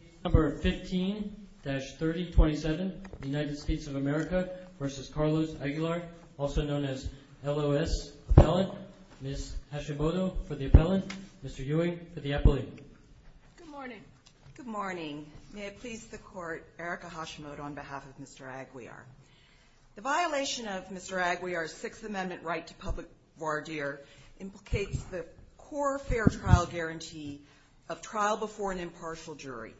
Case number 15-3027, United States of America v. Carlos Aguiar, also known as LOS Appellant. Ms. Hashimoto for the Appellant, Mr. Ewing for the Appellant. Good morning. Good morning. May it please the Court, Erica Hashimoto on behalf of Mr. Aguiar. The violation of Mr. Aguiar's Sixth Amendment right to public voir dire implicates the core fair trial guarantee of trial before an impartial jury.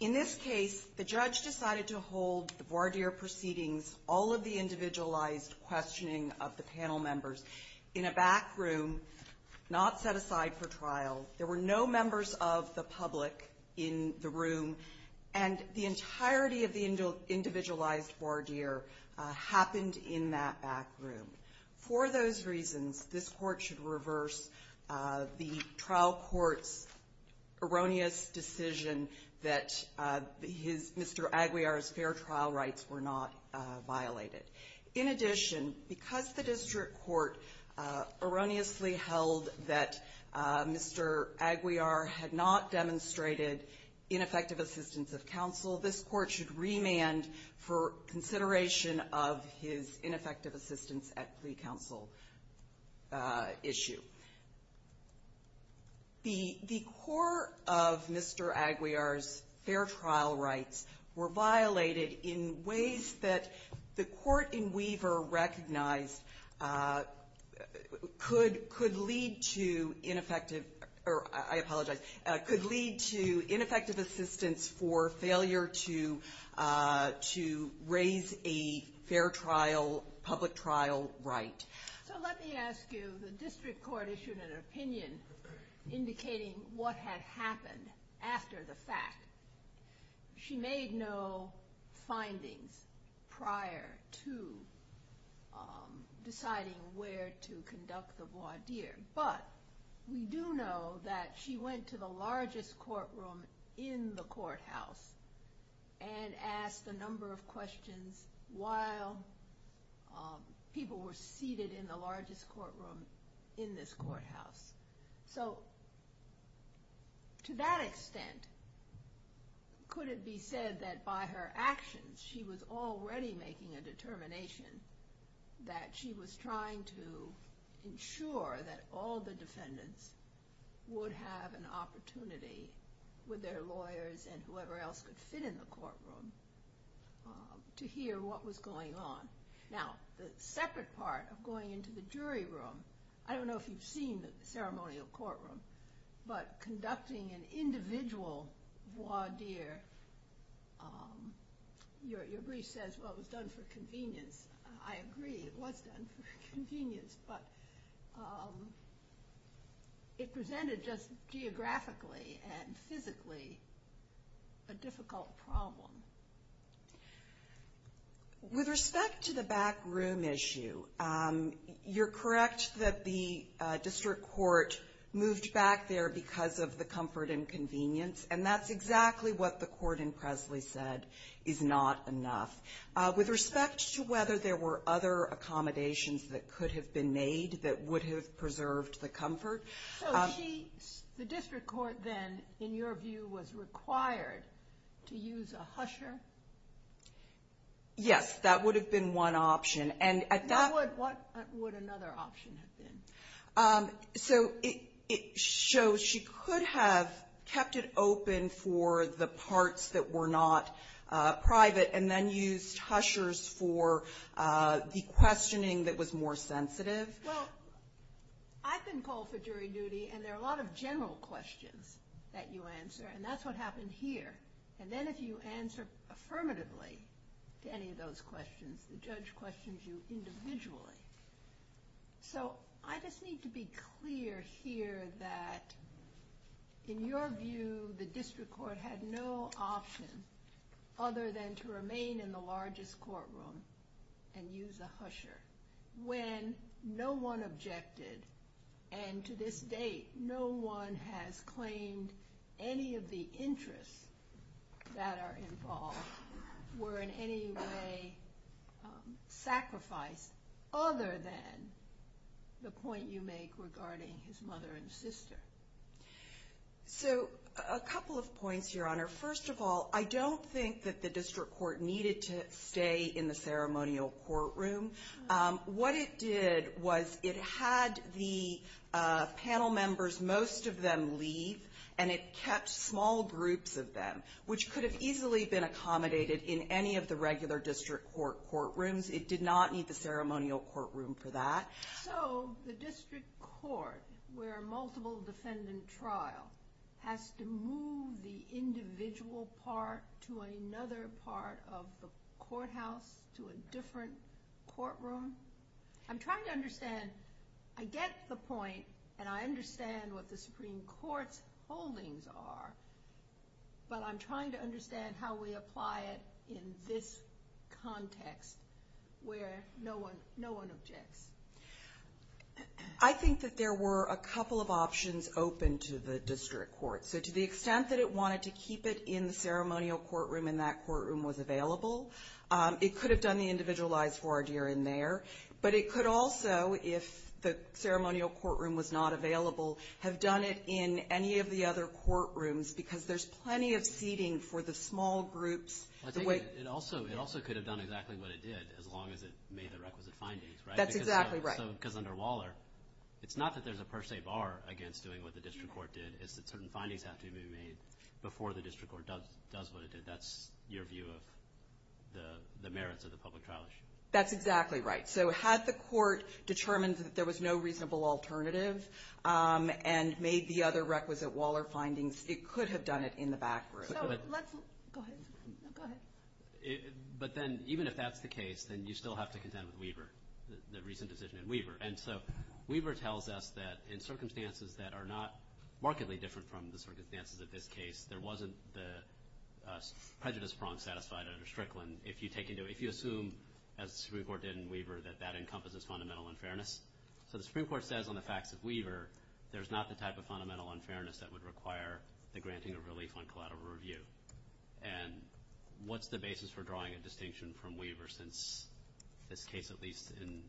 In this case, the judge decided to hold the voir dire proceedings, all of the individualized questioning of the panel members, in a back room, not set aside for trial. There were no members of the public in the room. And the entirety of the individualized voir dire happened in that back room. For those reasons, this Court should reverse the trial court's erroneous decision that his Mr. Aguiar's fair trial rights were not violated. In addition, because the district court erroneously held that Mr. Aguiar had not demonstrated ineffective assistance of counsel, this Court should remand for consideration of his ineffective assistance at pre-counsel issue. The core of Mr. Aguiar's fair trial rights were violated in ways that the court in Weaver recognized could lead to ineffective or I apologize, could lead to ineffective assistance for failure to raise a fair trial, public trial right. So let me ask you, the district court issued an opinion indicating what had happened after the fact. She made no findings prior to deciding where to conduct the voir dire. But we do know that she went to the largest courtroom in the courthouse and asked a number of questions while people were seated in the largest courtroom in this courthouse. So to that extent, could it be said that by her actions she was already making a determination that she was trying to ensure that all the defendants would have an opportunity with their lawyers and whoever else could fit in the courtroom to hear what was going on. Now, the separate part of going into the jury room, I don't know if you've seen the ceremonial courtroom, but conducting an individual voir dire, your brief says it was done for convenience. I agree, it was done for convenience, but it presented just geographically and physically a difficult problem. With respect to the back room issue, you're correct that the district court moved back there because of the comfort and convenience, and that's exactly what the court in Presley said is not enough. With respect to whether there were other accommodations that could have been made that would have preserved the comfort. So she, the district court then, in your view, was required to use a husher? Yes. That would have been one option. And at that point, what would another option have been? So it shows she could have kept it open for the parts that were not private and then used hushers for the questioning that was more sensitive. Well, I've been called for jury duty and there are a lot of general questions that you answer and that's what happened here. And then if you answer affirmatively to any of those questions, the judge questions you individually. So I just need to be clear here that in your view, the district court had no option other than to remain in the largest courtroom and use a husher. When no one objected, and to this date no one has claimed any of the interests that are involved were in any way sacrificed other than the point you make regarding his mother and sister. So a couple of points, Your Honor. First of all, I don't think that the district court needed to stay in the ceremonial courtroom. What it did was it had the panel members, most of them leave, and it kept small groups of them, which could have easily been accommodated in any of the regular district court courtrooms. It did not need the ceremonial courtroom for that. So the district court, where multiple defendant trial, has to move the individual part to another part of the courthouse, to a different courtroom? I'm trying to understand, I get the point and I understand what the Supreme Court's holdings are, but I'm trying to understand how we apply it in this context where no one objects. I think that there were a couple of options open to the district court. So to the extent that it wanted to keep it in the ceremonial courtroom and that courtroom was available, it could have done the individualized forward year in there. But it could also, if the ceremonial courtroom was not available, have done it in any of the other courtrooms because there's plenty of seating for the small groups. It also could have done exactly what it did as long as it made the requisite findings, right? That's exactly right. Because under Waller, it's not that there's a per se bar against doing what the district court did. It's that certain findings have to be made before the district court does what it did. That's your view of the merits of the public trial issue. That's exactly right. So had the court determined that there was no reasonable alternative and made the other requisite Waller findings, it could have done it in the back room. Go ahead. But then even if that's the case, then you still have to contend with Weaver, the recent decision in Weaver. And so Weaver tells us that in circumstances that are not markedly different from the circumstances of this case, there wasn't the prejudice prong satisfied under Strickland. If you assume, as the Supreme Court did in Weaver, that that encompasses fundamental unfairness. So the Supreme Court says on the facts of Weaver, there's not the type of fundamental unfairness that would require the granting of relief on collateral review. And what's the basis for drawing a distinction from Weaver since this case, at least in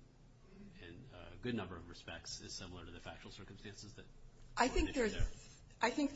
a good number of respects, is similar to the factual circumstances? I think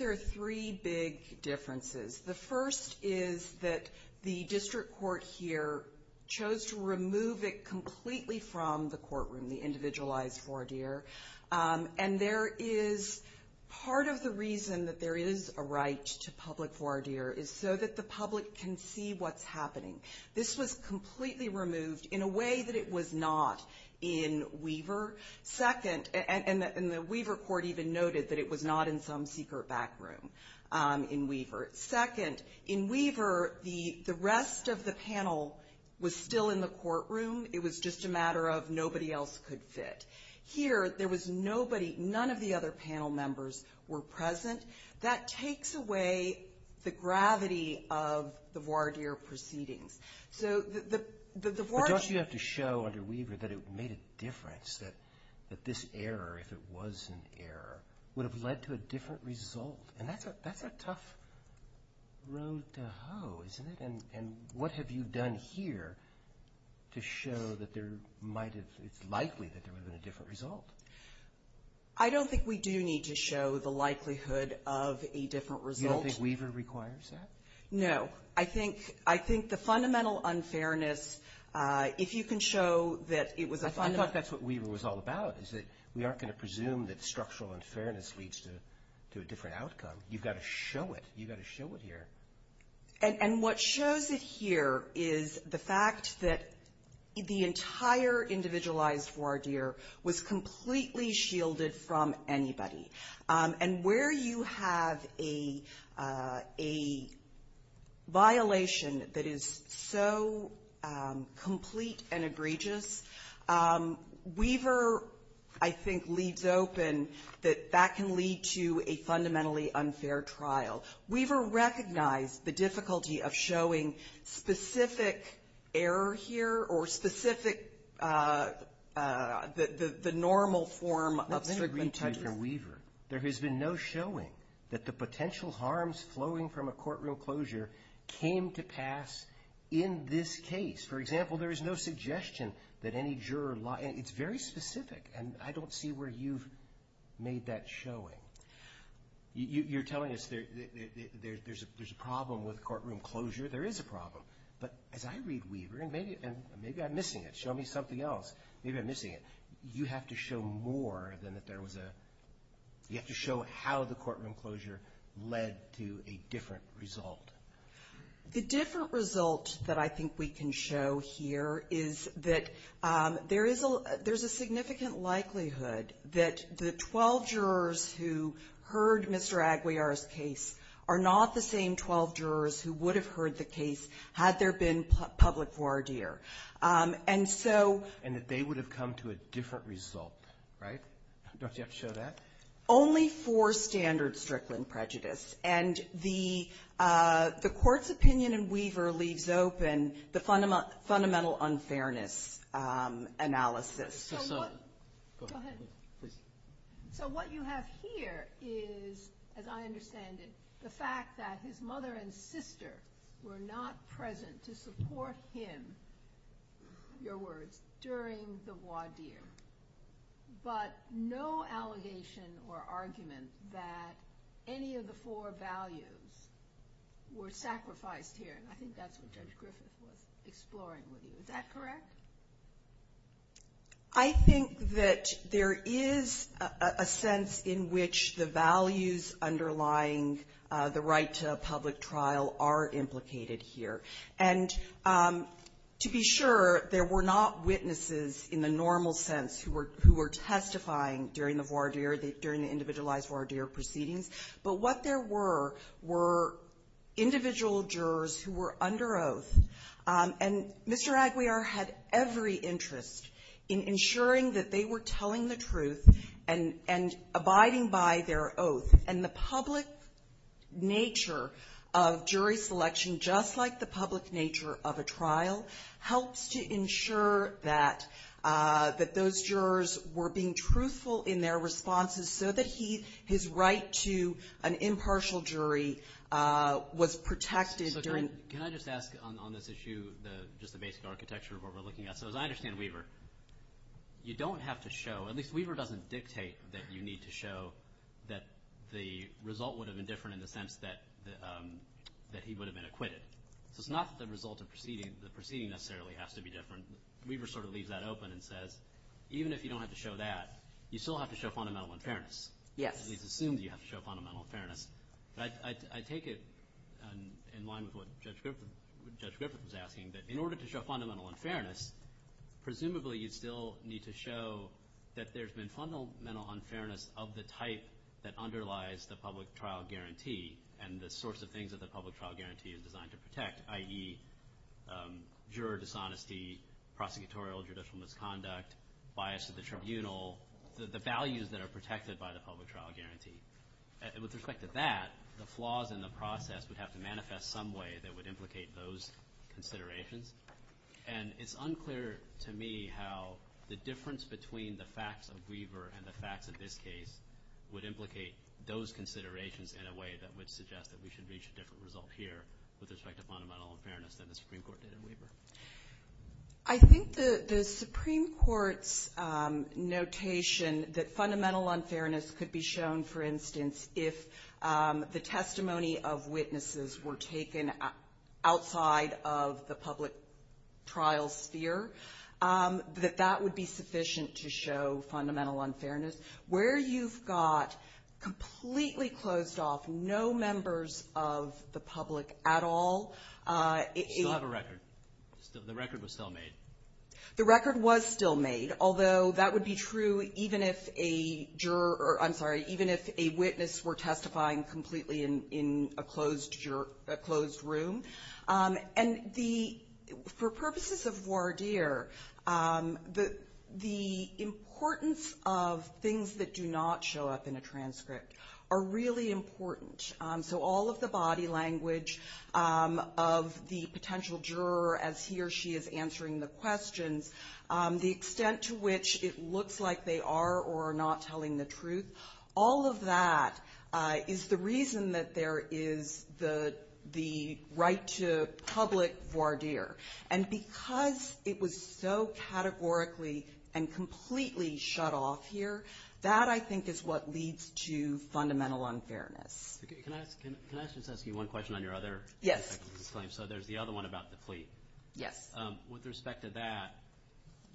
there are three big differences. The first is that the district court here chose to remove it completely from the courtroom, the individualized voir dire. And there is part of the reason that there is a right to public voir dire is so that the public can see what's happening. This was completely removed in a way that it was not in Weaver. Second, and the Weaver court even noted that it was not in some secret back room in Weaver. Second, in Weaver, the rest of the panel was still in the courtroom. It was just a matter of nobody else could fit. Here, there was nobody, none of the other panel members were present. That takes away the gravity of the voir dire proceedings. But don't you have to show under Weaver that it made a difference, that this error, if it was an error, would have led to a different result? And that's a tough road to hoe, isn't it? And what have you done here to show that it's likely that there would have been a different result? I don't think we do need to show the likelihood of a different result. You don't think Weaver requires that? No. I think the fundamental unfairness, if you can show that it was a fundamental- I thought that's what Weaver was all about, is that we aren't going to presume that structural unfairness leads to a different outcome. You've got to show it. You've got to show it here. And what shows it here is the fact that the entire individualized voir dire was completely shielded from anybody. And where you have a violation that is so complete and egregious, Weaver, I think, leaves open that that can lead to a fundamentally unfair trial. Weaver recognized the difficulty of showing specific error here or specific- There has been no showing that the potential harms flowing from a courtroom closure came to pass in this case. For example, there is no suggestion that any juror- It's very specific, and I don't see where you've made that showing. You're telling us there's a problem with courtroom closure. There is a problem. But as I read Weaver, and maybe I'm missing it. Show me something else. Maybe I'm missing it. You have to show more than if there was a- You have to show how the courtroom closure led to a different result. The different result that I think we can show here is that there is a significant likelihood that the 12 jurors who heard Mr. Aguiar's case are not the same 12 jurors who would have heard the case had there been public voir dire. And that they would have come to a different result, right? Don't you have to show that? Only for standard Strickland prejudice. And the court's opinion in Weaver leaves open the fundamental unfairness analysis. So what- Go ahead. Please. So what you have here is, as I understand it, the fact that his mother and sister were not present to support him, your words, during the voir dire. But no allegation or argument that any of the four values were sacrificed here. And I think that's what Judge Griffith was exploring with you. Is that correct? I think that there is a sense in which the values underlying the right to a public trial are implicated here. And to be sure, there were not witnesses, in the normal sense, who were testifying during the voir dire, during the individualized voir dire proceedings. But what there were were individual jurors who were under oath. And Mr. Aguiar had every interest in ensuring that they were telling the truth and abiding by their oath. And the public nature of jury selection, just like the public nature of a trial, helps to ensure that those jurors were being truthful in their responses, so that his right to an impartial jury was protected during- I want to focus on this issue, just the basic architecture of what we're looking at. So as I understand, Weaver, you don't have to show- at least Weaver doesn't dictate that you need to show that the result would have been different in the sense that he would have been acquitted. So it's not that the result of the proceeding necessarily has to be different. Weaver sort of leaves that open and says, even if you don't have to show that, you still have to show fundamental unfairness. Yes. It's assumed you have to show fundamental unfairness. I take it in line with what Judge Griffith was asking, that in order to show fundamental unfairness, presumably you still need to show that there's been fundamental unfairness of the type that underlies the public trial guarantee and the sorts of things that the public trial guarantee is designed to protect, i.e. juror dishonesty, prosecutorial judicial misconduct, bias of the tribunal, the values that are protected by the public trial guarantee. With respect to that, the flaws in the process would have to manifest some way that would implicate those considerations. And it's unclear to me how the difference between the facts of Weaver and the facts of this case would implicate those considerations in a way that would suggest that we should reach a different result here with respect to fundamental unfairness than the Supreme Court did in Weaver. I think the Supreme Court's notation that fundamental unfairness could be shown for instance if the testimony of witnesses were taken outside of the public trial sphere, that that would be sufficient to show fundamental unfairness. Where you've got completely closed off, no members of the public at all. You still have a record. The record was still made. The record was still made, although that would be true even if a juror or I'm sorry even if a witness were testifying completely in a closed room. And for purposes of voir dire, the importance of things that do not show up in a transcript are really important. So all of the body language of the potential juror as he or she is answering the questions, the extent to which it looks like they are or are not telling the truth, all of that is the reason that there is the right to public voir dire. And because it was so categorically and completely shut off here, that I think is what leads to fundamental unfairness. Can I just ask you one question on your other claim? Yes. So there's the other one about the plea. Yes. With respect to that,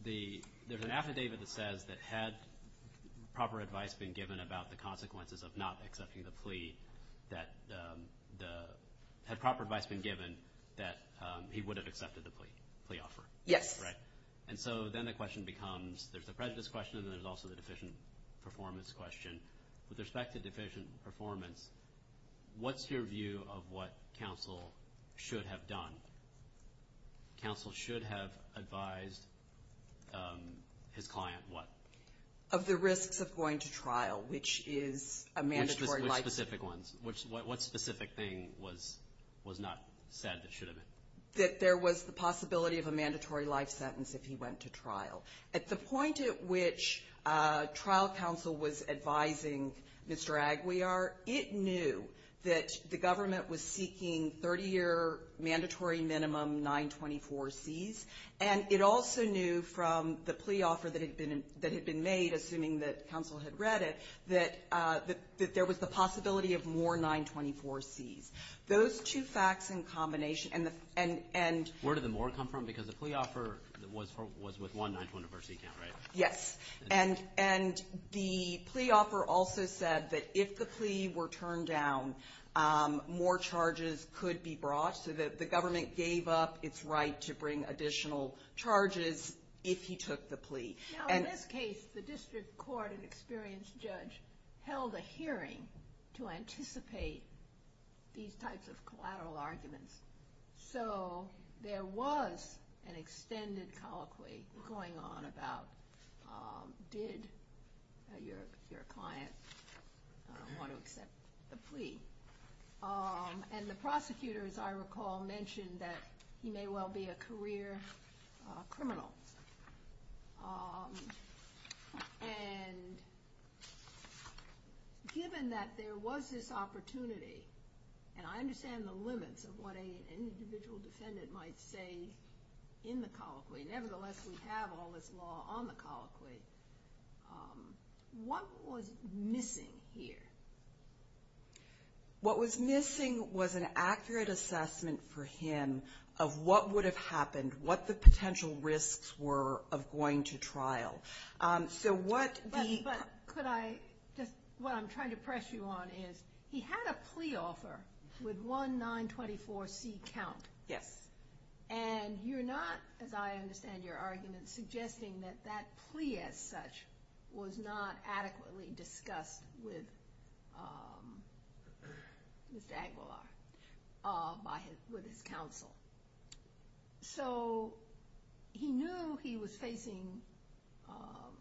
there's an affidavit that says that had proper advice been given about the consequences of not accepting the plea, that had proper advice been given that he would have accepted the plea offer. Yes. Right. And so then the question becomes, there's the prejudice question and then there's also the deficient performance question. With respect to deficient performance, what's your view of what counsel should have done? Counsel should have advised his client what? Of the risks of going to trial, which is a mandatory life sentence. Which specific ones? What specific thing was not said that should have been? That there was the possibility of a mandatory life sentence if he went to trial. At the point at which trial counsel was advising Mr. Aguiar, it knew that the government was seeking 30-year mandatory minimum 924Cs. And it also knew from the plea offer that had been made, assuming that counsel had read it, that there was the possibility of more 924Cs. Those two facts in combination and the end. Where did the more come from? Because the plea offer was with one 924C count, right? Yes. And the plea offer also said that if the plea were turned down, more charges could be brought. So the government gave up its right to bring additional charges if he took the plea. Now in this case, the district court and experienced judge held a hearing to anticipate these types of collateral arguments. So there was an extended colloquy going on about did your client want to accept the plea. And the prosecutor, as I recall, mentioned that he may well be a career criminal. And given that there was this opportunity, and I understand the limits of what an individual defendant might say in the colloquy. Nevertheless, we have all this law on the colloquy. What was missing here? What was missing was an accurate assessment for him of what would have happened, what the potential risks were of going to trial. So what the- But could I just, what I'm trying to press you on is he had a plea offer with one 924C count. Yes. And you're not, as I understand your argument, suggesting that that plea as such was not adequately discussed with Mr. Aguilar, with his counsel. So he knew he was facing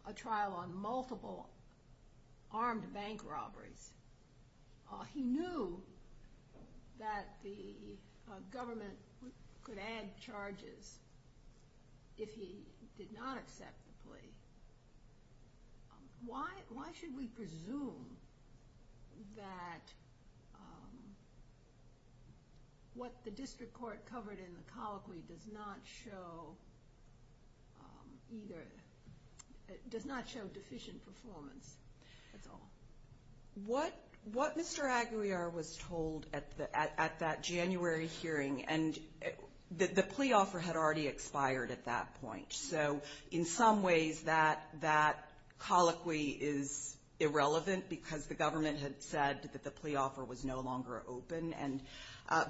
a trial on multiple armed bank robberies. He knew that the government could add charges if he did not accept the plea. Why should we presume that what the district court covered in the colloquy does not show either, does not show deficient performance at all? What Mr. Aguilar was told at that January hearing, and the plea offer had already expired at that point. So in some ways that colloquy is irrelevant because the government had said that the plea offer was no longer open.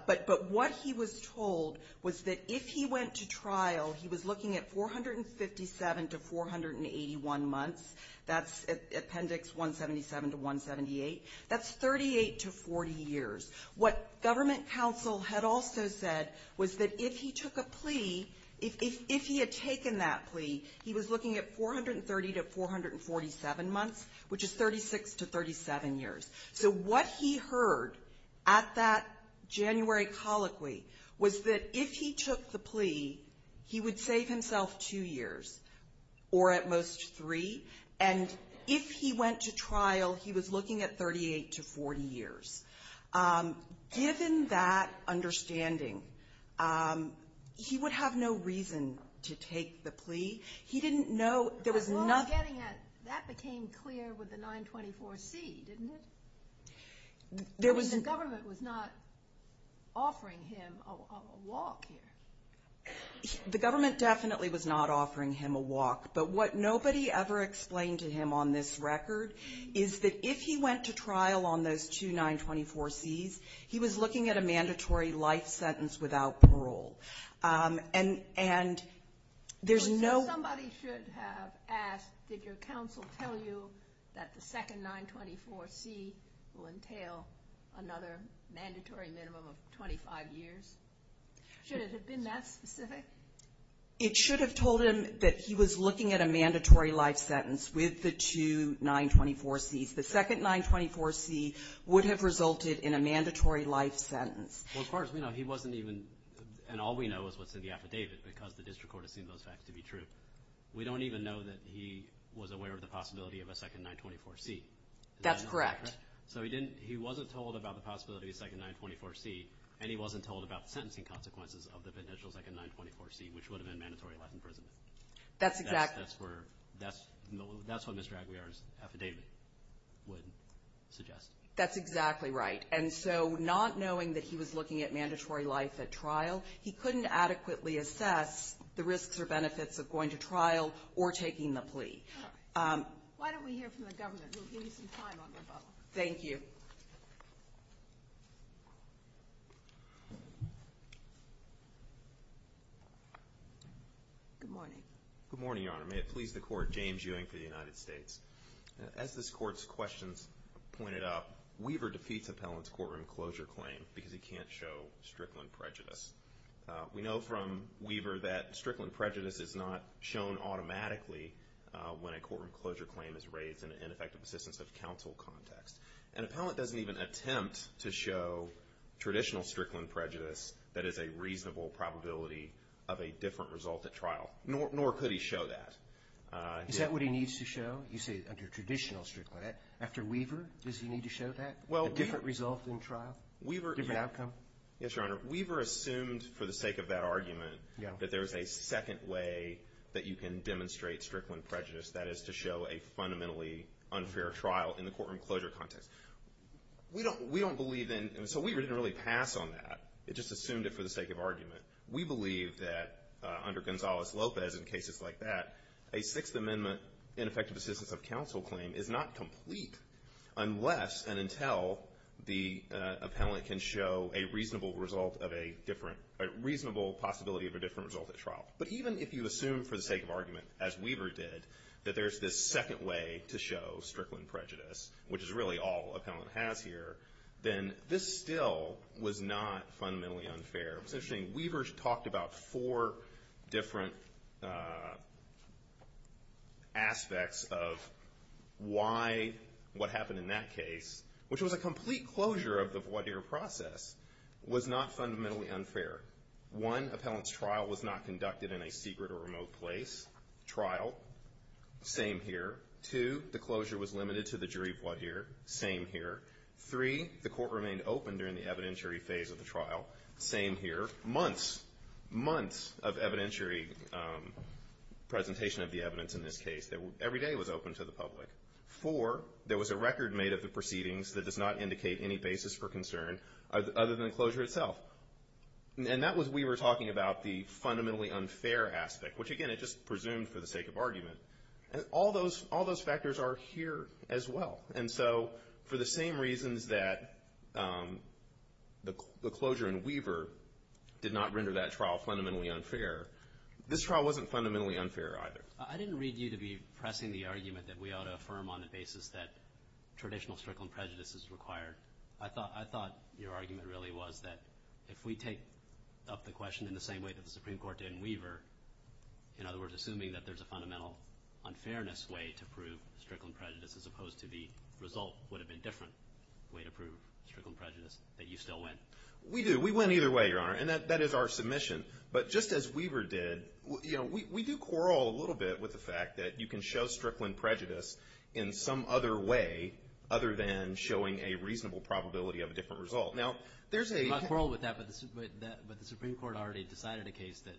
But what he was told was that if he went to trial, he was looking at 457 to 481 months. That's Appendix 177 to 178. That's 38 to 40 years. What government counsel had also said was that if he took a plea, if he had taken that plea, he was looking at 430 to 447 months, which is 36 to 37 years. So what he heard at that January colloquy was that if he took the plea, he would save himself two years, or at most three. And if he went to trial, he was looking at 38 to 40 years. Given that understanding, he would have no reason to take the plea. He didn't know. There was nothing. That became clear with the 924C, didn't it? The government was not offering him a walk here. The government definitely was not offering him a walk. But what nobody ever explained to him on this record is that if he went to trial on those two 924Cs, he was looking at a mandatory life sentence without parole. And there's no... Somebody should have asked, did your counsel tell you that the second 924C will entail another mandatory minimum of 25 years? Should it have been that specific? It should have told him that he was looking at a mandatory life sentence with the two 924Cs. The second 924C would have resulted in a mandatory life sentence. Well, as far as we know, he wasn't even... And all we know is what's in the affidavit, because the district court has seen those facts to be true. We don't even know that he was aware of the possibility of a second 924C. That's correct. So he wasn't told about the possibility of a second 924C, and he wasn't told about the sentencing consequences of the potential second 924C, which would have been mandatory life in prison. That's exactly... That's what Mr. Aguiar's affidavit would suggest. That's exactly right. And so not knowing that he was looking at mandatory life at trial, he couldn't adequately assess the risks or benefits of going to trial or taking the plea. Why don't we hear from the government? We'll give you some time on the phone. Thank you. Good morning. Good morning, Your Honor. May it please the Court, James Ewing for the United States. As this Court's questions pointed out, Weaver defeats appellant's courtroom closure claim because he can't show Strickland prejudice. We know from Weaver that Strickland prejudice is not shown automatically when a courtroom closure claim is raised in an ineffective assistance of counsel context. An appellant doesn't even attempt to show traditional Strickland prejudice that is a reasonable probability of a different result at trial, nor could he show that. Is that what he needs to show? You say under traditional Strickland. After Weaver, does he need to show that, a different result in trial, different outcome? Yes, Your Honor. Weaver assumed for the sake of that argument that there is a second way that you can demonstrate Strickland prejudice, that is to show a fundamentally unfair trial in the courtroom closure context. We don't believe in – so Weaver didn't really pass on that. It just assumed it for the sake of argument. We believe that under Gonzales-Lopez and cases like that, a Sixth Amendment ineffective assistance of counsel claim is not complete unless and until the appellant can show a reasonable result of a different – a reasonable possibility of a different result at trial. But even if you assume for the sake of argument, as Weaver did, that there's this second way to show Strickland prejudice, which is really all appellant has here, then this still was not fundamentally unfair. It's interesting. Weaver talked about four different aspects of why what happened in that case, which was a complete closure of the voir dire process, was not fundamentally unfair. One, appellant's trial was not conducted in a secret or remote place. Trial, same here. Two, the closure was limited to the jury voir dire. Same here. Three, the court remained open during the evidentiary phase of the trial. Same here. Months, months of evidentiary presentation of the evidence in this case. Every day was open to the public. Four, there was a record made of the proceedings that does not indicate any basis for concern other than the closure itself. And that was Weaver talking about the fundamentally unfair aspect, which, again, it just presumed for the sake of argument. All those factors are here as well. And so for the same reasons that the closure in Weaver did not render that trial fundamentally unfair, this trial wasn't fundamentally unfair either. I didn't read you to be pressing the argument that we ought to affirm on the basis that traditional strickland prejudice is required. I thought your argument really was that if we take up the question in the same way that the Supreme Court did in Weaver, in other words, assuming that there's a fundamental unfairness way to prove strickland prejudice as opposed to the result would have been different way to prove strickland prejudice, that you still win. We do. We win either way, Your Honor. And that is our submission. But just as Weaver did, you know, we do quarrel a little bit with the fact that you can show strickland prejudice in some other way other than showing a reasonable probability of a different result. Now, there's a... We don't quarrel with that. But the Supreme Court already decided a case that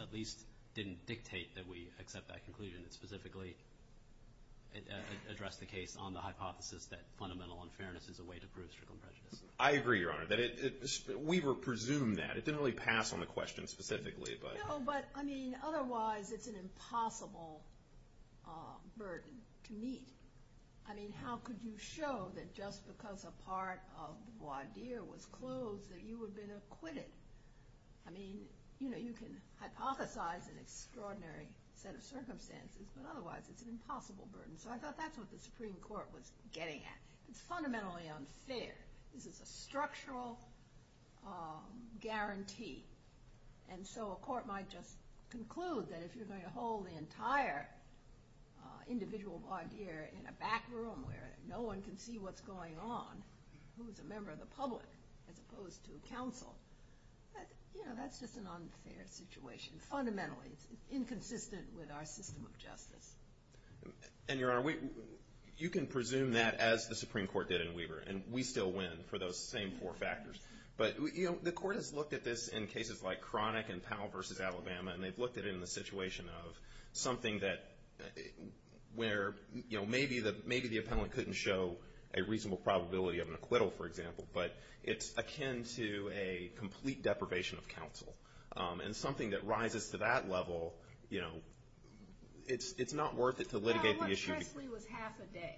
at least didn't dictate that we accept that conclusion. It specifically addressed the case on the hypothesis that fundamental unfairness is a way to prove strickland prejudice. I agree, Your Honor. That it... Weaver presumed that. It didn't really pass on the question specifically, but... No, but, I mean, otherwise it's an impossible burden to meet. I mean, how could you show that just because a part of the voir dire was closed that you would have been acquitted? I mean, you know, you can hypothesize an extraordinary set of circumstances, but otherwise it's an impossible burden. So I thought that's what the Supreme Court was getting at. It's fundamentally unfair. This is a structural guarantee. And so a court might just conclude that if you're going to hold the entire individual voir dire in a back room where no one can see what's going on, who's a member of the But, you know, that's just an unfair situation. Fundamentally. It's inconsistent with our system of justice. And, Your Honor, you can presume that as the Supreme Court did in Weaver, and we still win for those same four factors. But, you know, the Court has looked at this in cases like Cronic and Powell v. Alabama, and they've looked at it in the situation of something that, where, you know, maybe the appellant couldn't show a reasonable probability of an acquittal, for example, but it's akin to a complete deprivation of counsel. And something that rises to that level, you know, it's not worth it to litigate the issue. Yeah, I learned Presley was half a day.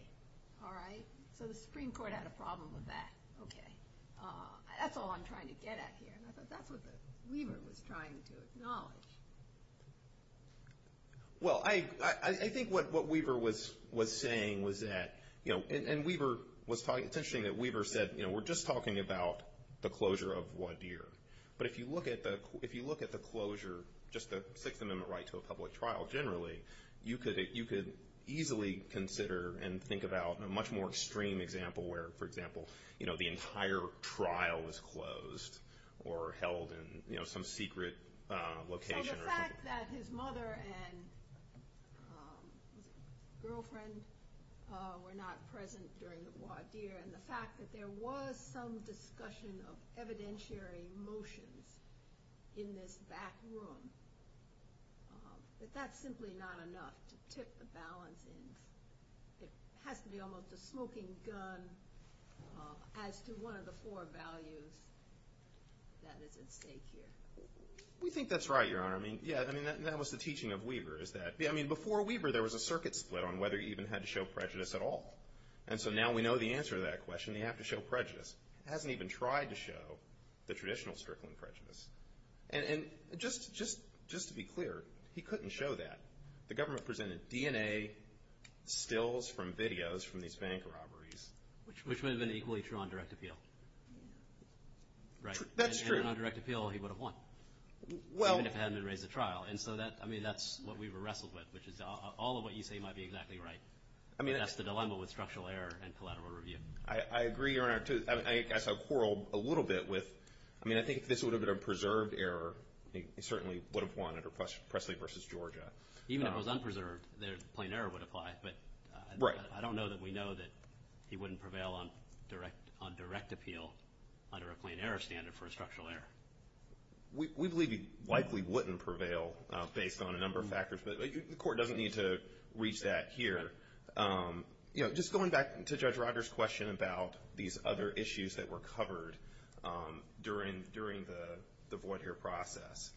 All right? So the Supreme Court had a problem with that. Okay. That's all I'm trying to get at here. And I thought that's what Weaver was trying to acknowledge. Well, I think what Weaver was saying was that, you know, and Weaver was talking, it's interesting that Weaver said, you know, we're just talking about the closure of Waudeer. But if you look at the closure, just the Sixth Amendment right to a public trial generally, you could easily consider and think about a much more extreme example where, for example, you know, the entire trial was closed or held in, you know, some secret location. So the fact that his mother and girlfriend were not present during the Waudeer and the fact that there was some discussion of evidentiary motions in this back room, that that's simply not enough to tip the balance. It has to be almost a smoking gun as to one of the four values that is at stake here. We think that's right, Your Honor. I mean, yeah, I mean, that was the teaching of Weaver is that, I mean, before Weaver, there was a circuit split on whether he even had to show prejudice at all. And so now we know the answer to that question. You have to show prejudice. He hasn't even tried to show the traditional strickling prejudice. And just to be clear, he couldn't show that. The government presented DNA stills from videos from these bank robberies. Which would have been equally true on direct appeal. Right. That's true. Even on direct appeal, he would have won. Well. Even if it hadn't been raised at trial. And so, I mean, that's what Weaver wrestled with, which is all of what you say might be exactly right. I mean, that's the dilemma with structural error and collateral review. I agree, Your Honor, too. I guess I'll quarrel a little bit with, I mean, I think if this would have been a preserved error, he certainly would have won under Presley v. Georgia. Even if it was unpreserved, plain error would apply. Right. But I don't know that we know that he wouldn't prevail on direct appeal under a plain error standard for a structural error. We believe he likely wouldn't prevail based on a number of factors. But the court doesn't need to reach that here. You know, just going back to Judge Rogers' question about these other issues that were covered during the void-hear process,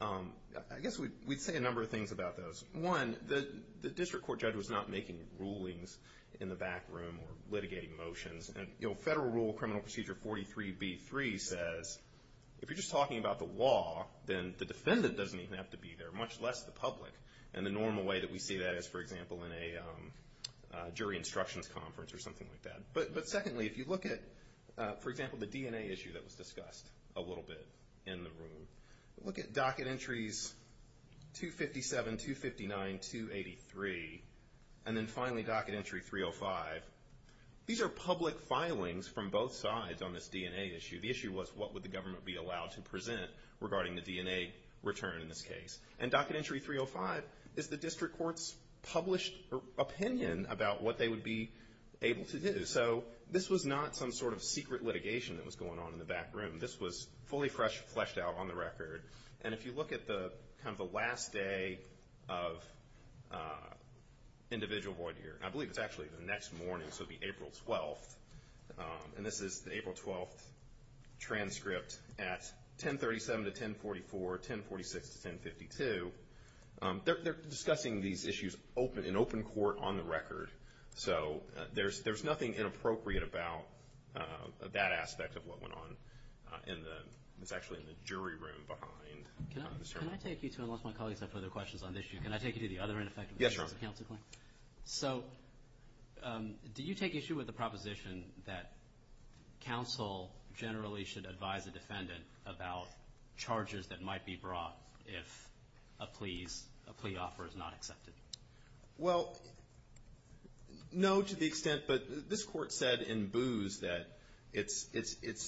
I guess we'd say a number of things about those. One, the district court judge was not making rulings in the back room or litigating motions. Federal Rule Criminal Procedure 43b-3 says if you're just talking about the law, then the defendant doesn't even have to be there, much less the public. And the normal way that we see that is, for example, in a jury instructions conference or something like that. But secondly, if you look at, for example, the DNA issue that was discussed a little bit in the room, look at docket entries 257, 259, 283, and then finally docket entry 305. These are public filings from both sides on this DNA issue. The issue was what would the government be allowed to present regarding the DNA return in this case. And docket entry 305 is the district court's published opinion about what they would be able to do. So this was not some sort of secret litigation that was going on in the back room. This was fully fleshed out on the record. And if you look at kind of the last day of individual void year, and I believe it's actually the next morning, so the April 12th, and this is the April 12th transcript at 1037-1044, 1046-1052, they're discussing these issues in open court on the record. So there's nothing inappropriate about that aspect of what went on. It's actually in the jury room behind this hearing. Can I take you to, unless my colleagues have further questions on this issue, can I take you to the other ineffectiveness of the counsel claim? Yes, Your Honor. So did you take issue with the proposition that counsel generally should advise a defendant about charges that might be brought if a plea offer is not accepted? Well, no to the extent, but this court said in booze that it's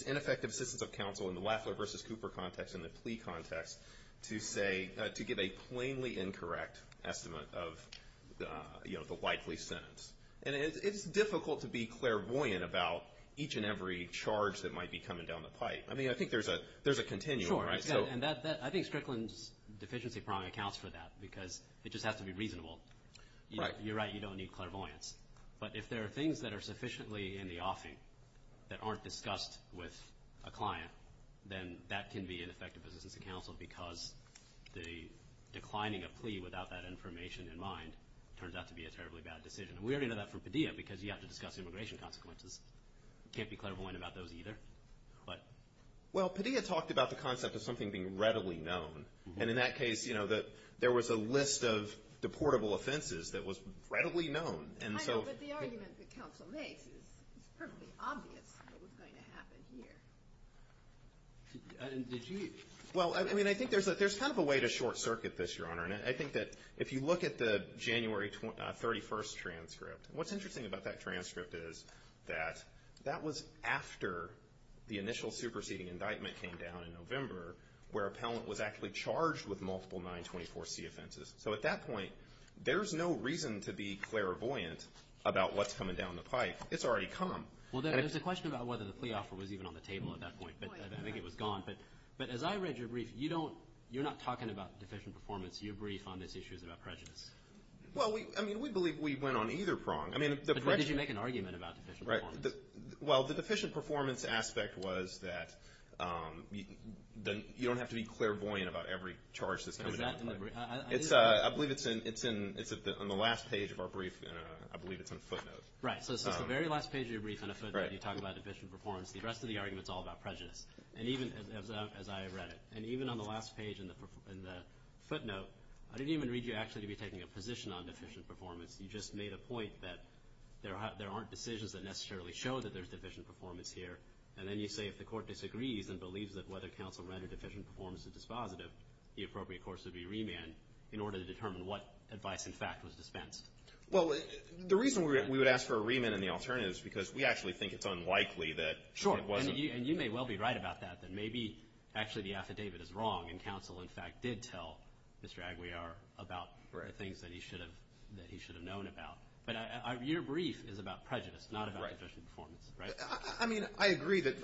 ineffective assistance of counsel in the Laffler versus Cooper context and the plea context to say, to give a plainly incorrect estimate of, you know, the likely sentence. And it's difficult to be clairvoyant about each and every charge that might be coming down the pipe. I mean, I think there's a continuum, right? Sure. And I think Strickland's deficiency problem accounts for that because it just has to be reasonable. You're right. You don't need clairvoyance. But if there are things that are sufficiently in the offing that aren't discussed with a client, then that can be ineffective assistance of counsel because the declining of plea without that information in mind turns out to be a terribly bad decision. And we already know that from Padilla because you have to discuss immigration consequences. You can't be clairvoyant about those either. What? Well, Padilla talked about the concept of something being readily known. And in that case, you know, there was a list of deportable offenses that was readily known. I know, but the argument that counsel makes is perfectly obvious what was going to happen here. Did you? Well, I mean, I think there's kind of a way to short circuit this, Your Honor. What's interesting about that transcript is that that was after the initial superseding indictment came down in November where appellant was actually charged with multiple 924C offenses. So at that point, there's no reason to be clairvoyant about what's coming down the pipe. It's already come. Well, there's a question about whether the plea offer was even on the table at that point. I think it was gone. But as I read your brief, you're not talking about deficient performance. Your brief on this issue is about prejudice. Well, I mean, we believe we went on either prong. But where did you make an argument about deficient performance? Well, the deficient performance aspect was that you don't have to be clairvoyant about every charge that's coming down the pipe. I believe it's on the last page of our brief. I believe it's on footnotes. Right. So it's the very last page of your brief on a footnote. You talk about deficient performance. The rest of the argument is all about prejudice, as I read it. And even on the last page in the footnote, I didn't even read you actually to be taking a position on deficient performance. You just made a point that there aren't decisions that necessarily show that there's deficient performance here. And then you say if the court disagrees and believes that whether counsel read a deficient performance as dispositive, the appropriate course would be remand in order to determine what advice, in fact, was dispensed. Well, the reason we would ask for a remand and the alternative is because we actually think it's unlikely that it wasn't. Sure. And you may well be right about that, that maybe actually the affidavit is wrong and counsel, in fact, did tell Mr. Aguiar about the things that he should have known about. But your brief is about prejudice, not about deficient performance. Right. I mean, I agree that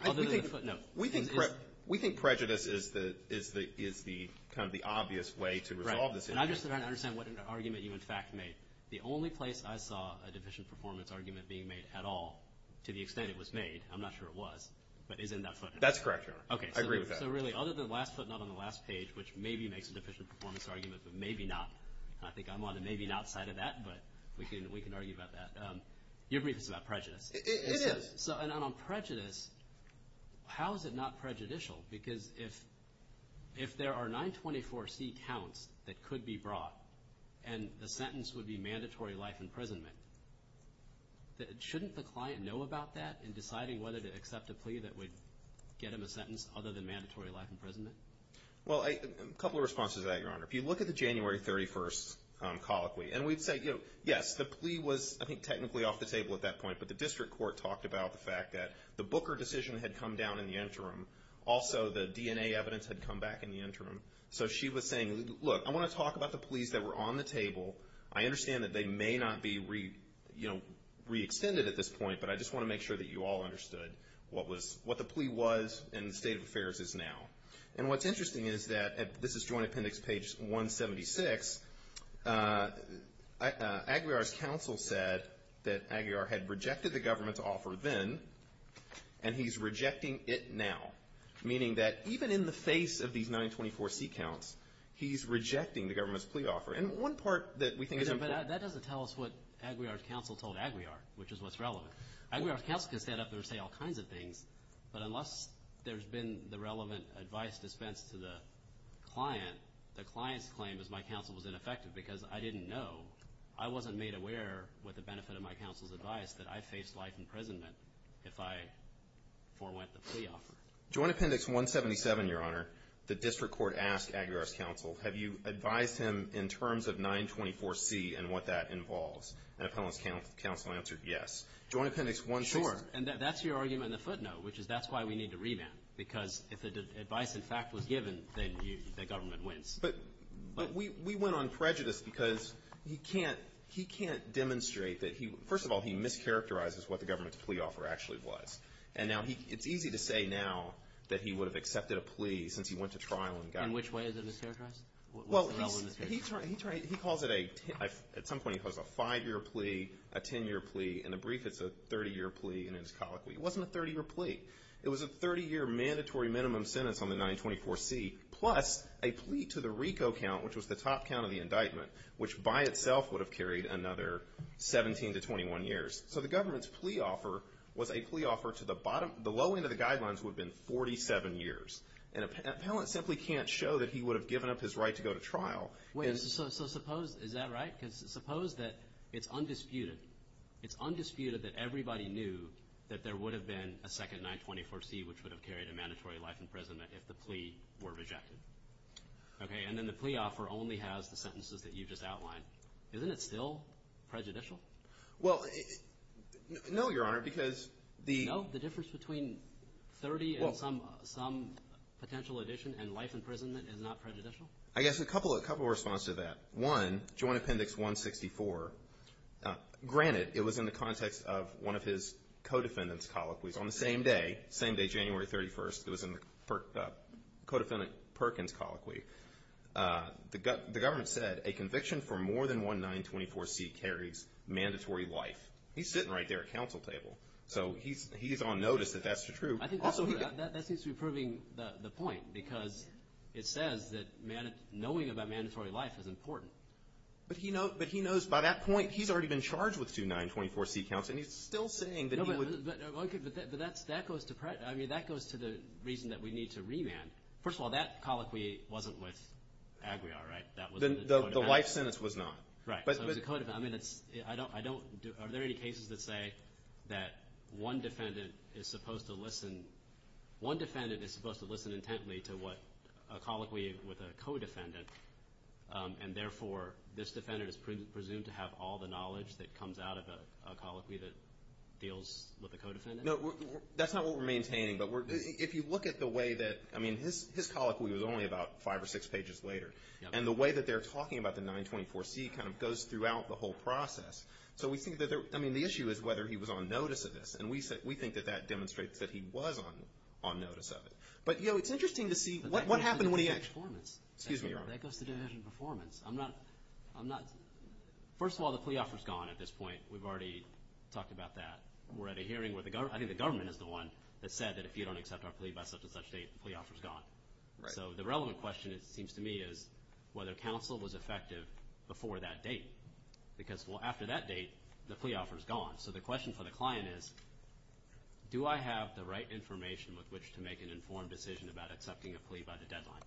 we think prejudice is kind of the obvious way to resolve this issue. Right. And I just don't understand what argument you, in fact, made. The only place I saw a deficient performance argument being made at all, to the extent it was made, I'm not sure it was, but is in that footnote. That's correct, Your Honor. Okay. I agree with that. So really, other than the last footnote on the last page, which maybe makes a deficient performance argument, but maybe not, I think I'm on the maybe not side of that, but we can argue about that. Your brief is about prejudice. It is. And on prejudice, how is it not prejudicial? Because if there are 924C counts that could be brought and the sentence would be mandatory life imprisonment, shouldn't the client know about that in deciding whether to accept a plea that would get him a sentence other than mandatory life imprisonment? Well, a couple of responses to that, Your Honor. If you look at the January 31st colloquy, and we'd say, you know, yes, the plea was, I think, technically off the table at that point, but the district court talked about the fact that the Booker decision had come down in the interim. Also, the DNA evidence had come back in the interim. So she was saying, look, I want to talk about the pleas that were on the table. I understand that they may not be, you know, re-extended at this point, but I just want to make sure that you all understood what the plea was and the state of affairs is now. And what's interesting is that this is Joint Appendix page 176. Aguiar's counsel said that Aguiar had rejected the government's offer then, and he's rejecting it now, meaning that even in the face of these 924C counts, he's rejecting the government's plea offer. And one part that we think is important. But that doesn't tell us what Aguiar's counsel told Aguiar, which is what's relevant. Aguiar's counsel could stand up there and say all kinds of things, but unless there's been the relevant advice dispensed to the client, the client's claim is my counsel was ineffective because I didn't know. I wasn't made aware with the benefit of my counsel's advice that I faced life imprisonment if I forewent the plea offer. Joint Appendix 177, Your Honor, the district court asked Aguiar's counsel, have you advised him in terms of 924C and what that involves? And Appellant's counsel answered yes. Joint Appendix 166. And that's your argument on the footnote, which is that's why we need to revamp, because if the advice, in fact, was given, then the government wins. But we went on prejudice because he can't demonstrate that he – first of all, he mischaracterizes what the government's plea offer actually was. And now he – it's easy to say now that he would have accepted a plea since he went to trial and got it. In which way is it mischaracterized? Well, he calls it a – at some point he calls it a five-year plea, a ten-year plea. In the brief, it's a 30-year plea, and it's colloquial. It wasn't a 30-year plea. It was a 30-year mandatory minimum sentence on the 924C plus a plea to the RICO count, which was the top count of the indictment, which by itself would have carried another 17 to 21 years. So the government's plea offer was a plea offer to the bottom – the low end of the guidelines would have been 47 years. And Appellant simply can't show that he would have given up his right to go to trial. Wait, so suppose – is that right? Because suppose that it's undisputed. It's undisputed that everybody knew that there would have been a second 924C, which would have carried a mandatory life in prison if the plea were rejected. Okay, and then the plea offer only has the sentences that you just outlined. Isn't it still prejudicial? Well, no, Your Honor, because the – and life in prison is not prejudicial? I guess a couple of responses to that. One, Joint Appendix 164, granted it was in the context of one of his co-defendant's colloquies. On the same day, same day, January 31st, it was in the co-defendant Perkins' colloquy. The government said a conviction for more than one 924C carries mandatory life. He's sitting right there at counsel table, so he's on notice that that's the truth. Also, that seems to be proving the point because it says that knowing about mandatory life is important. But he knows by that point he's already been charged with two 924C counts, and he's still saying that he would— But that goes to the reason that we need to remand. First of all, that colloquy wasn't with Aguiar, right? The life sentence was not. Right, so it was a co-defendant. Are there any cases that say that one defendant is supposed to listen intently to a colloquy with a co-defendant, and therefore this defendant is presumed to have all the knowledge that comes out of a colloquy that deals with a co-defendant? No, that's not what we're maintaining. But if you look at the way that—I mean, his colloquy was only about five or six pages later. And the way that they're talking about the 924C kind of goes throughout the whole process. So we think that—I mean, the issue is whether he was on notice of this, and we think that that demonstrates that he was on notice of it. But, you know, it's interesting to see what happened when he— But that goes to division of performance. Excuse me, Your Honor. That goes to division of performance. I'm not—first of all, the plea offer's gone at this point. We've already talked about that. We're at a hearing where the—I think the government is the one that said that if you don't accept our plea by such and such date, the plea offer's gone. Right. So the relevant question, it seems to me, is whether counsel was effective before that date. Because, well, after that date, the plea offer's gone. So the question for the client is, do I have the right information with which to make an informed decision about accepting a plea by the deadline?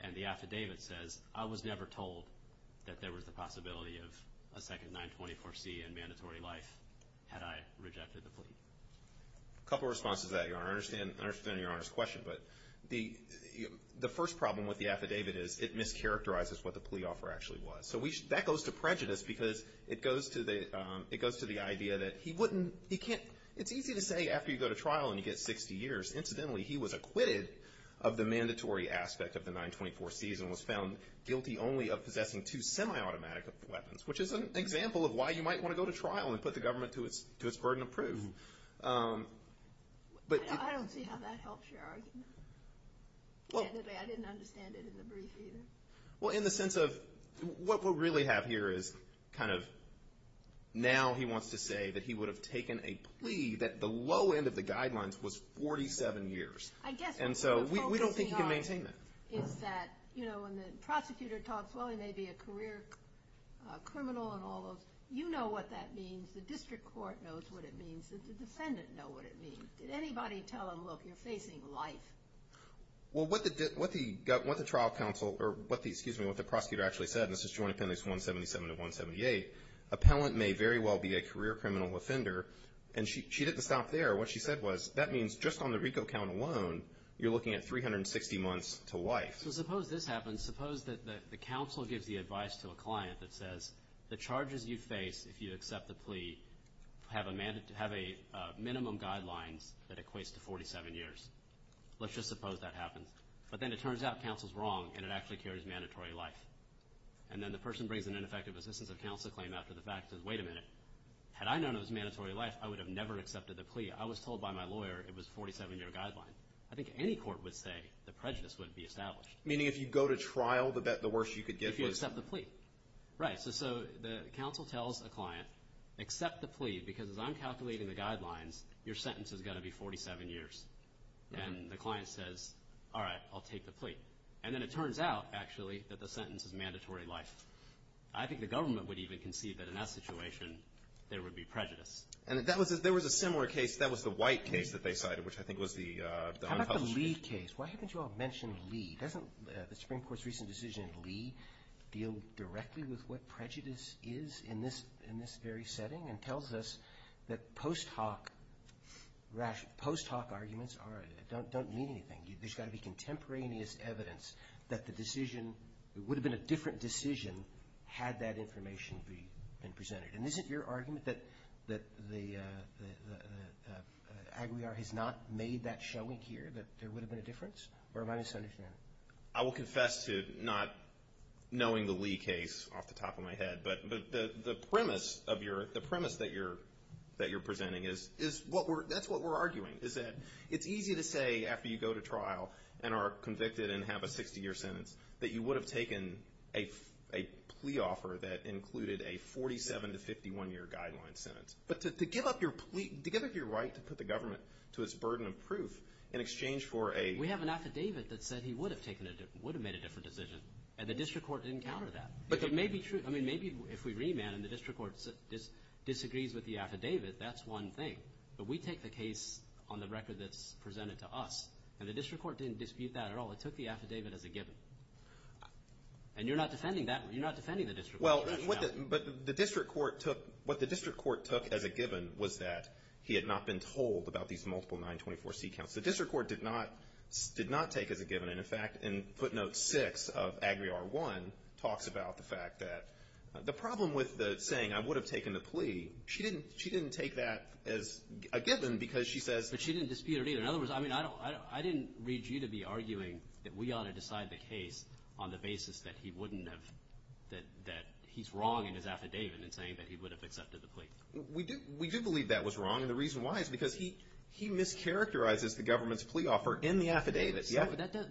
And the affidavit says, I was never told that there was the possibility of a second 924C in mandatory life had I rejected the plea. A couple of responses to that, Your Honor. I understand Your Honor's question, but the first problem with the affidavit is it mischaracterizes what the plea offer actually was. So that goes to prejudice because it goes to the idea that he wouldn't—he can't—it's easy to say after you go to trial and you get 60 years. Incidentally, he was acquitted of the mandatory aspect of the 924Cs and was found guilty only of possessing two semi-automatic weapons, which is an example of why you might want to go to trial and put the government to its burden of proof. I don't see how that helps your argument. I didn't understand it in the brief either. Well, in the sense of—what we really have here is kind of— now he wants to say that he would have taken a plea that the low end of the guidelines was 47 years. I guess what we're focusing on is that, you know, when the prosecutor talks, well, he may be a career criminal and all those—you know what that means. The district court knows what it means. Does the defendant know what it means? Did anybody tell him, look, you're facing life? Well, what the trial counsel—or excuse me, what the prosecutor actually said, and this is Joint Appendix 177 to 178, appellant may very well be a career criminal offender, and she didn't stop there. What she said was that means just on the RICO count alone, you're looking at 360 months to life. So suppose this happens. Suppose that the counsel gives the advice to a client that says, the charges you face if you accept the plea have a minimum guidelines that equates to 47 years. Let's just suppose that happens. But then it turns out counsel's wrong and it actually carries mandatory life. And then the person brings an ineffective assistance of counsel claim after the fact and says, wait a minute. Had I known it was mandatory life, I would have never accepted the plea. I was told by my lawyer it was a 47-year guideline. I think any court would say the prejudice wouldn't be established. Meaning if you go to trial, the worst you could get was— If you accept the plea. Right. So the counsel tells a client, accept the plea because as I'm calculating the guidelines, your sentence is going to be 47 years. And the client says, all right, I'll take the plea. And then it turns out, actually, that the sentence is mandatory life. I think the government would even concede that in that situation there would be prejudice. And there was a similar case. That was the White case that they cited, which I think was the unpublished case. How about the Lee case? Why haven't you all mentioned Lee? Doesn't the Supreme Court's recent decision in Lee deal directly with what prejudice is in this very setting and tells us that post hoc arguments don't mean anything? There's got to be contemporaneous evidence that the decision would have been a different decision had that information been presented. And isn't your argument that Aguiar has not made that showing here, that there would have been a difference? Or am I misunderstanding? I will confess to not knowing the Lee case off the top of my head, but the premise that you're presenting is that's what we're arguing, is that it's easy to say after you go to trial and are convicted and have a 60-year sentence that you would have taken a plea offer that included a 47- to 51-year guideline sentence. But to give up your plea, to give up your right to put the government to its burden of proof in exchange for a We have an affidavit that said he would have made a different decision, and the district court didn't counter that. But it may be true. I mean, maybe if we remand and the district court disagrees with the affidavit, that's one thing. But we take the case on the record that's presented to us, and the district court didn't dispute that at all. It took the affidavit as a given. And you're not defending that. You're not defending the district court. But what the district court took as a given was that he had not been told about these multiple 924-C counts. The district court did not take as a given. And, in fact, in footnote 6 of Agri-R1 talks about the fact that the problem with saying, I would have taken the plea, she didn't take that as a given because she says But she didn't dispute it either. In other words, I mean, I didn't read you to be arguing that we ought to decide the case on the basis that he wouldn't have that he's wrong in his affidavit in saying that he would have accepted the plea. We do believe that was wrong, and the reason why is because he mischaracterizes the government's plea offer in the affidavit.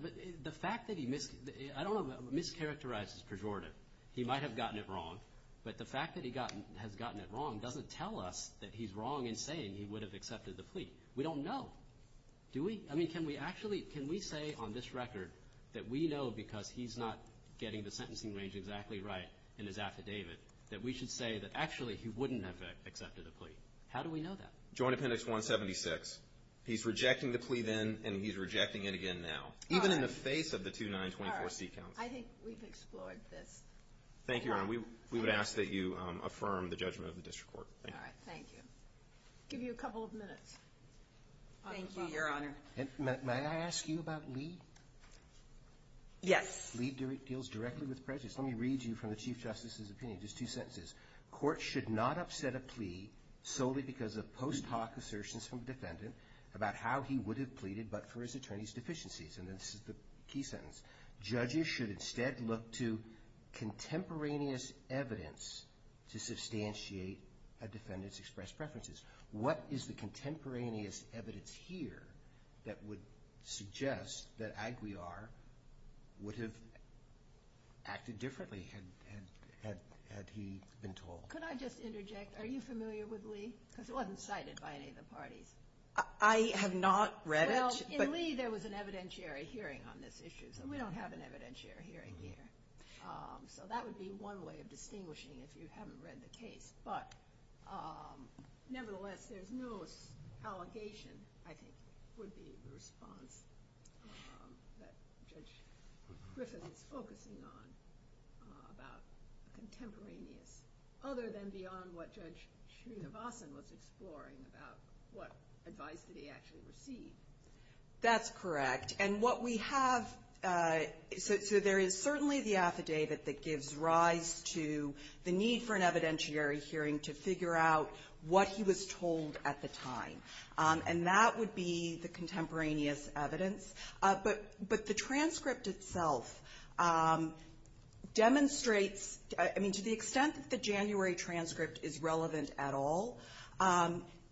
But the fact that he mischaracterizes his pejorative, he might have gotten it wrong, but the fact that he has gotten it wrong doesn't tell us that he's wrong in saying he would have accepted the plea. We don't know, do we? I mean, can we actually say on this record that we know because he's not getting the sentencing range exactly right in his affidavit that we should say that actually he wouldn't have accepted the plea? How do we know that? Joint Appendix 176. He's rejecting the plea then, and he's rejecting it again now. Even in the face of the 2924-C counts. I think we've explored this. Thank you, Your Honor. We would ask that you affirm the judgment of the district court. All right, thank you. I'll give you a couple of minutes. Thank you, Your Honor. May I ask you about Leed? Yes. Leed deals directly with prejudice. Let me read you from the Chief Justice's opinion, just two sentences. Court should not upset a plea solely because of post hoc assertions from defendant about how he would have pleaded but for his attorney's deficiencies, and this is the key sentence. Judges should instead look to contemporaneous evidence to substantiate a defendant's expressed preferences. What is the contemporaneous evidence here that would suggest that Aguiar would have acted differently had he been told? Could I just interject? Are you familiar with Leed? Because it wasn't cited by any of the parties. I have not read it. In Leed, there was an evidentiary hearing on this issue, so we don't have an evidentiary hearing here. So that would be one way of distinguishing if you haven't read the case. But nevertheless, there's no allegation, I think, would be the response that Judge Griffin is focusing on about contemporaneous evidence other than beyond what Judge Chinavasan was exploring about what advice did he actually receive. That's correct. And what we have so there is certainly the affidavit that gives rise to the need for an evidentiary hearing to figure out what he was told at the time, and that would be the contemporaneous evidence. But the transcript itself demonstrates to the extent that the January transcript is relevant at all,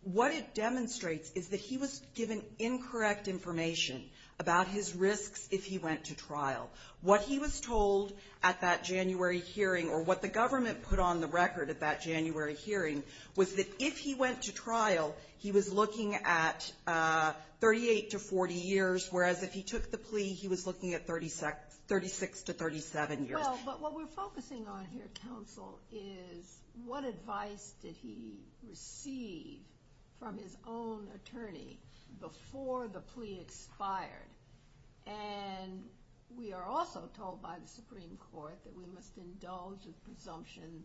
what it demonstrates is that he was given incorrect information about his risks if he went to trial. What he was told at that January hearing or what the government put on the record at that January hearing was that if he went to trial, he was looking at 38 to 40 years, whereas if he took the plea, he was looking at 36 to 37 years. Well, but what we're focusing on here, counsel, is what advice did he receive from his own attorney before the plea expired. And we are also told by the Supreme Court that we must indulge in presumption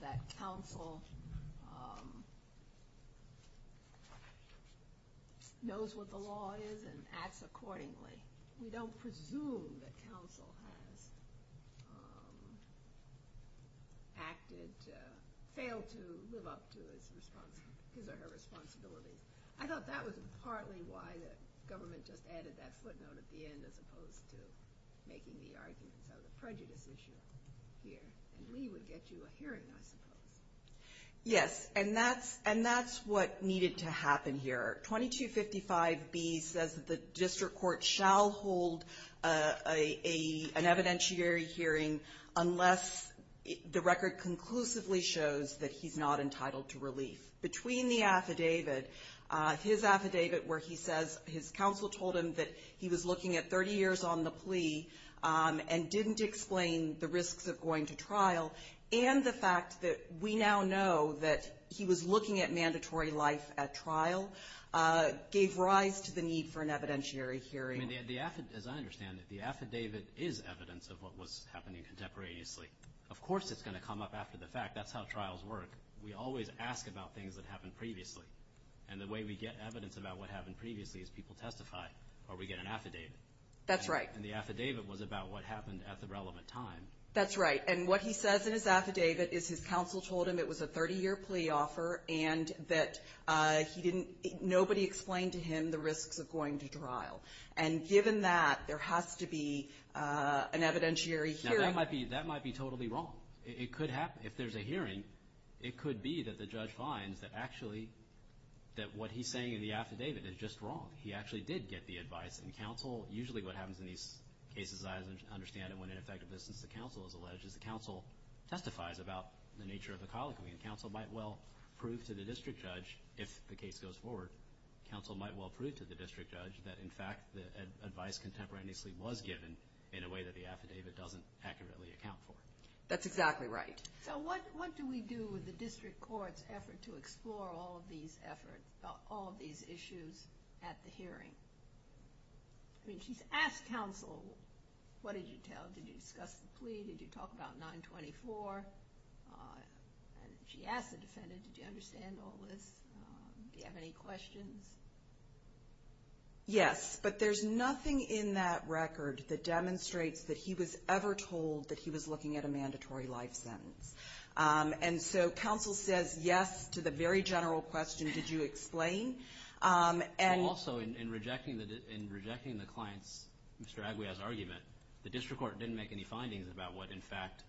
that counsel knows what the law is and acts accordingly. We don't presume that counsel has acted, failed to live up to his or her responsibilities. I thought that was partly why the government just added that footnote at the end as opposed to making the arguments of the prejudice issue here. And Lee would get you a hearing, I suppose. Yes, and that's what needed to happen here. 2255B says that the district court shall hold an evidentiary hearing unless the record conclusively shows that he's not entitled to relief. Between the affidavit, his affidavit where he says his counsel told him that he was looking at 30 years on the plea and didn't explain the risks of going to trial, and the fact that we now know that he was looking at mandatory life at trial, gave rise to the need for an evidentiary hearing. As I understand it, the affidavit is evidence of what was happening contemporaneously. Of course it's going to come up after the fact. That's how trials work. We always ask about things that happened previously. And the way we get evidence about what happened previously is people testify or we get an affidavit. That's right. And the affidavit was about what happened at the relevant time. That's right. And what he says in his affidavit is his counsel told him it was a 30-year plea offer and that nobody explained to him the risks of going to trial. And given that, there has to be an evidentiary hearing. Now, that might be totally wrong. It could happen. If there's a hearing, it could be that the judge finds that actually what he's saying in the affidavit is just wrong. He actually did get the advice. And counsel, usually what happens in these cases, as I understand it, when an effective distance to counsel is alleged, is the counsel testifies about the nature of the colloquy. And counsel might well prove to the district judge, if the case goes forward, counsel might well prove to the district judge that, in fact, the advice contemporaneously was given in a way that the affidavit doesn't accurately account for. That's exactly right. So what do we do with the district court's effort to explore all of these efforts, at the hearing? I mean, she's asked counsel, what did you tell? Did you discuss the plea? Did you talk about 924? She asked the defendant, did you understand all this? Do you have any questions? Yes, but there's nothing in that record that demonstrates that he was ever told that he was looking at a mandatory life sentence. And so counsel says yes to the very general question, did you explain? Also, in rejecting the client's, Mr. Aguiar's argument, the district court didn't make any findings about what, in fact,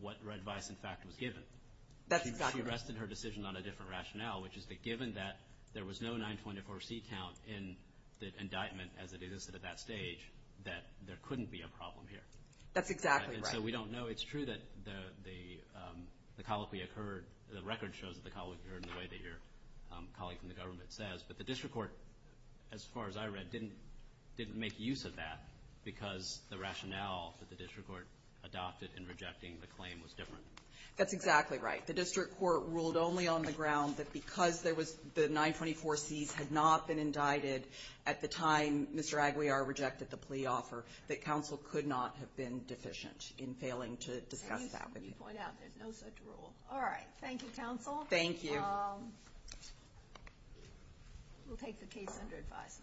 what advice, in fact, was given. That's exactly right. She rested her decision on a different rationale, which is that given that there was no 924C count in the indictment, as it existed at that stage, that there couldn't be a problem here. That's exactly right. And so we don't know. It's true that the colloquy occurred, the record shows that the colloquy occurred in the way that your colleague from the government says, but the district court, as far as I read, didn't make use of that because the rationale that the district court adopted in rejecting the claim was different. That's exactly right. The district court ruled only on the ground that because the 924Cs had not been indicted at the time Mr. Aguiar rejected the plea offer, that counsel could not have been deficient in failing to discuss that. You point out there's no such rule. All right. Thank you, counsel. Thank you. We'll take the case under advice.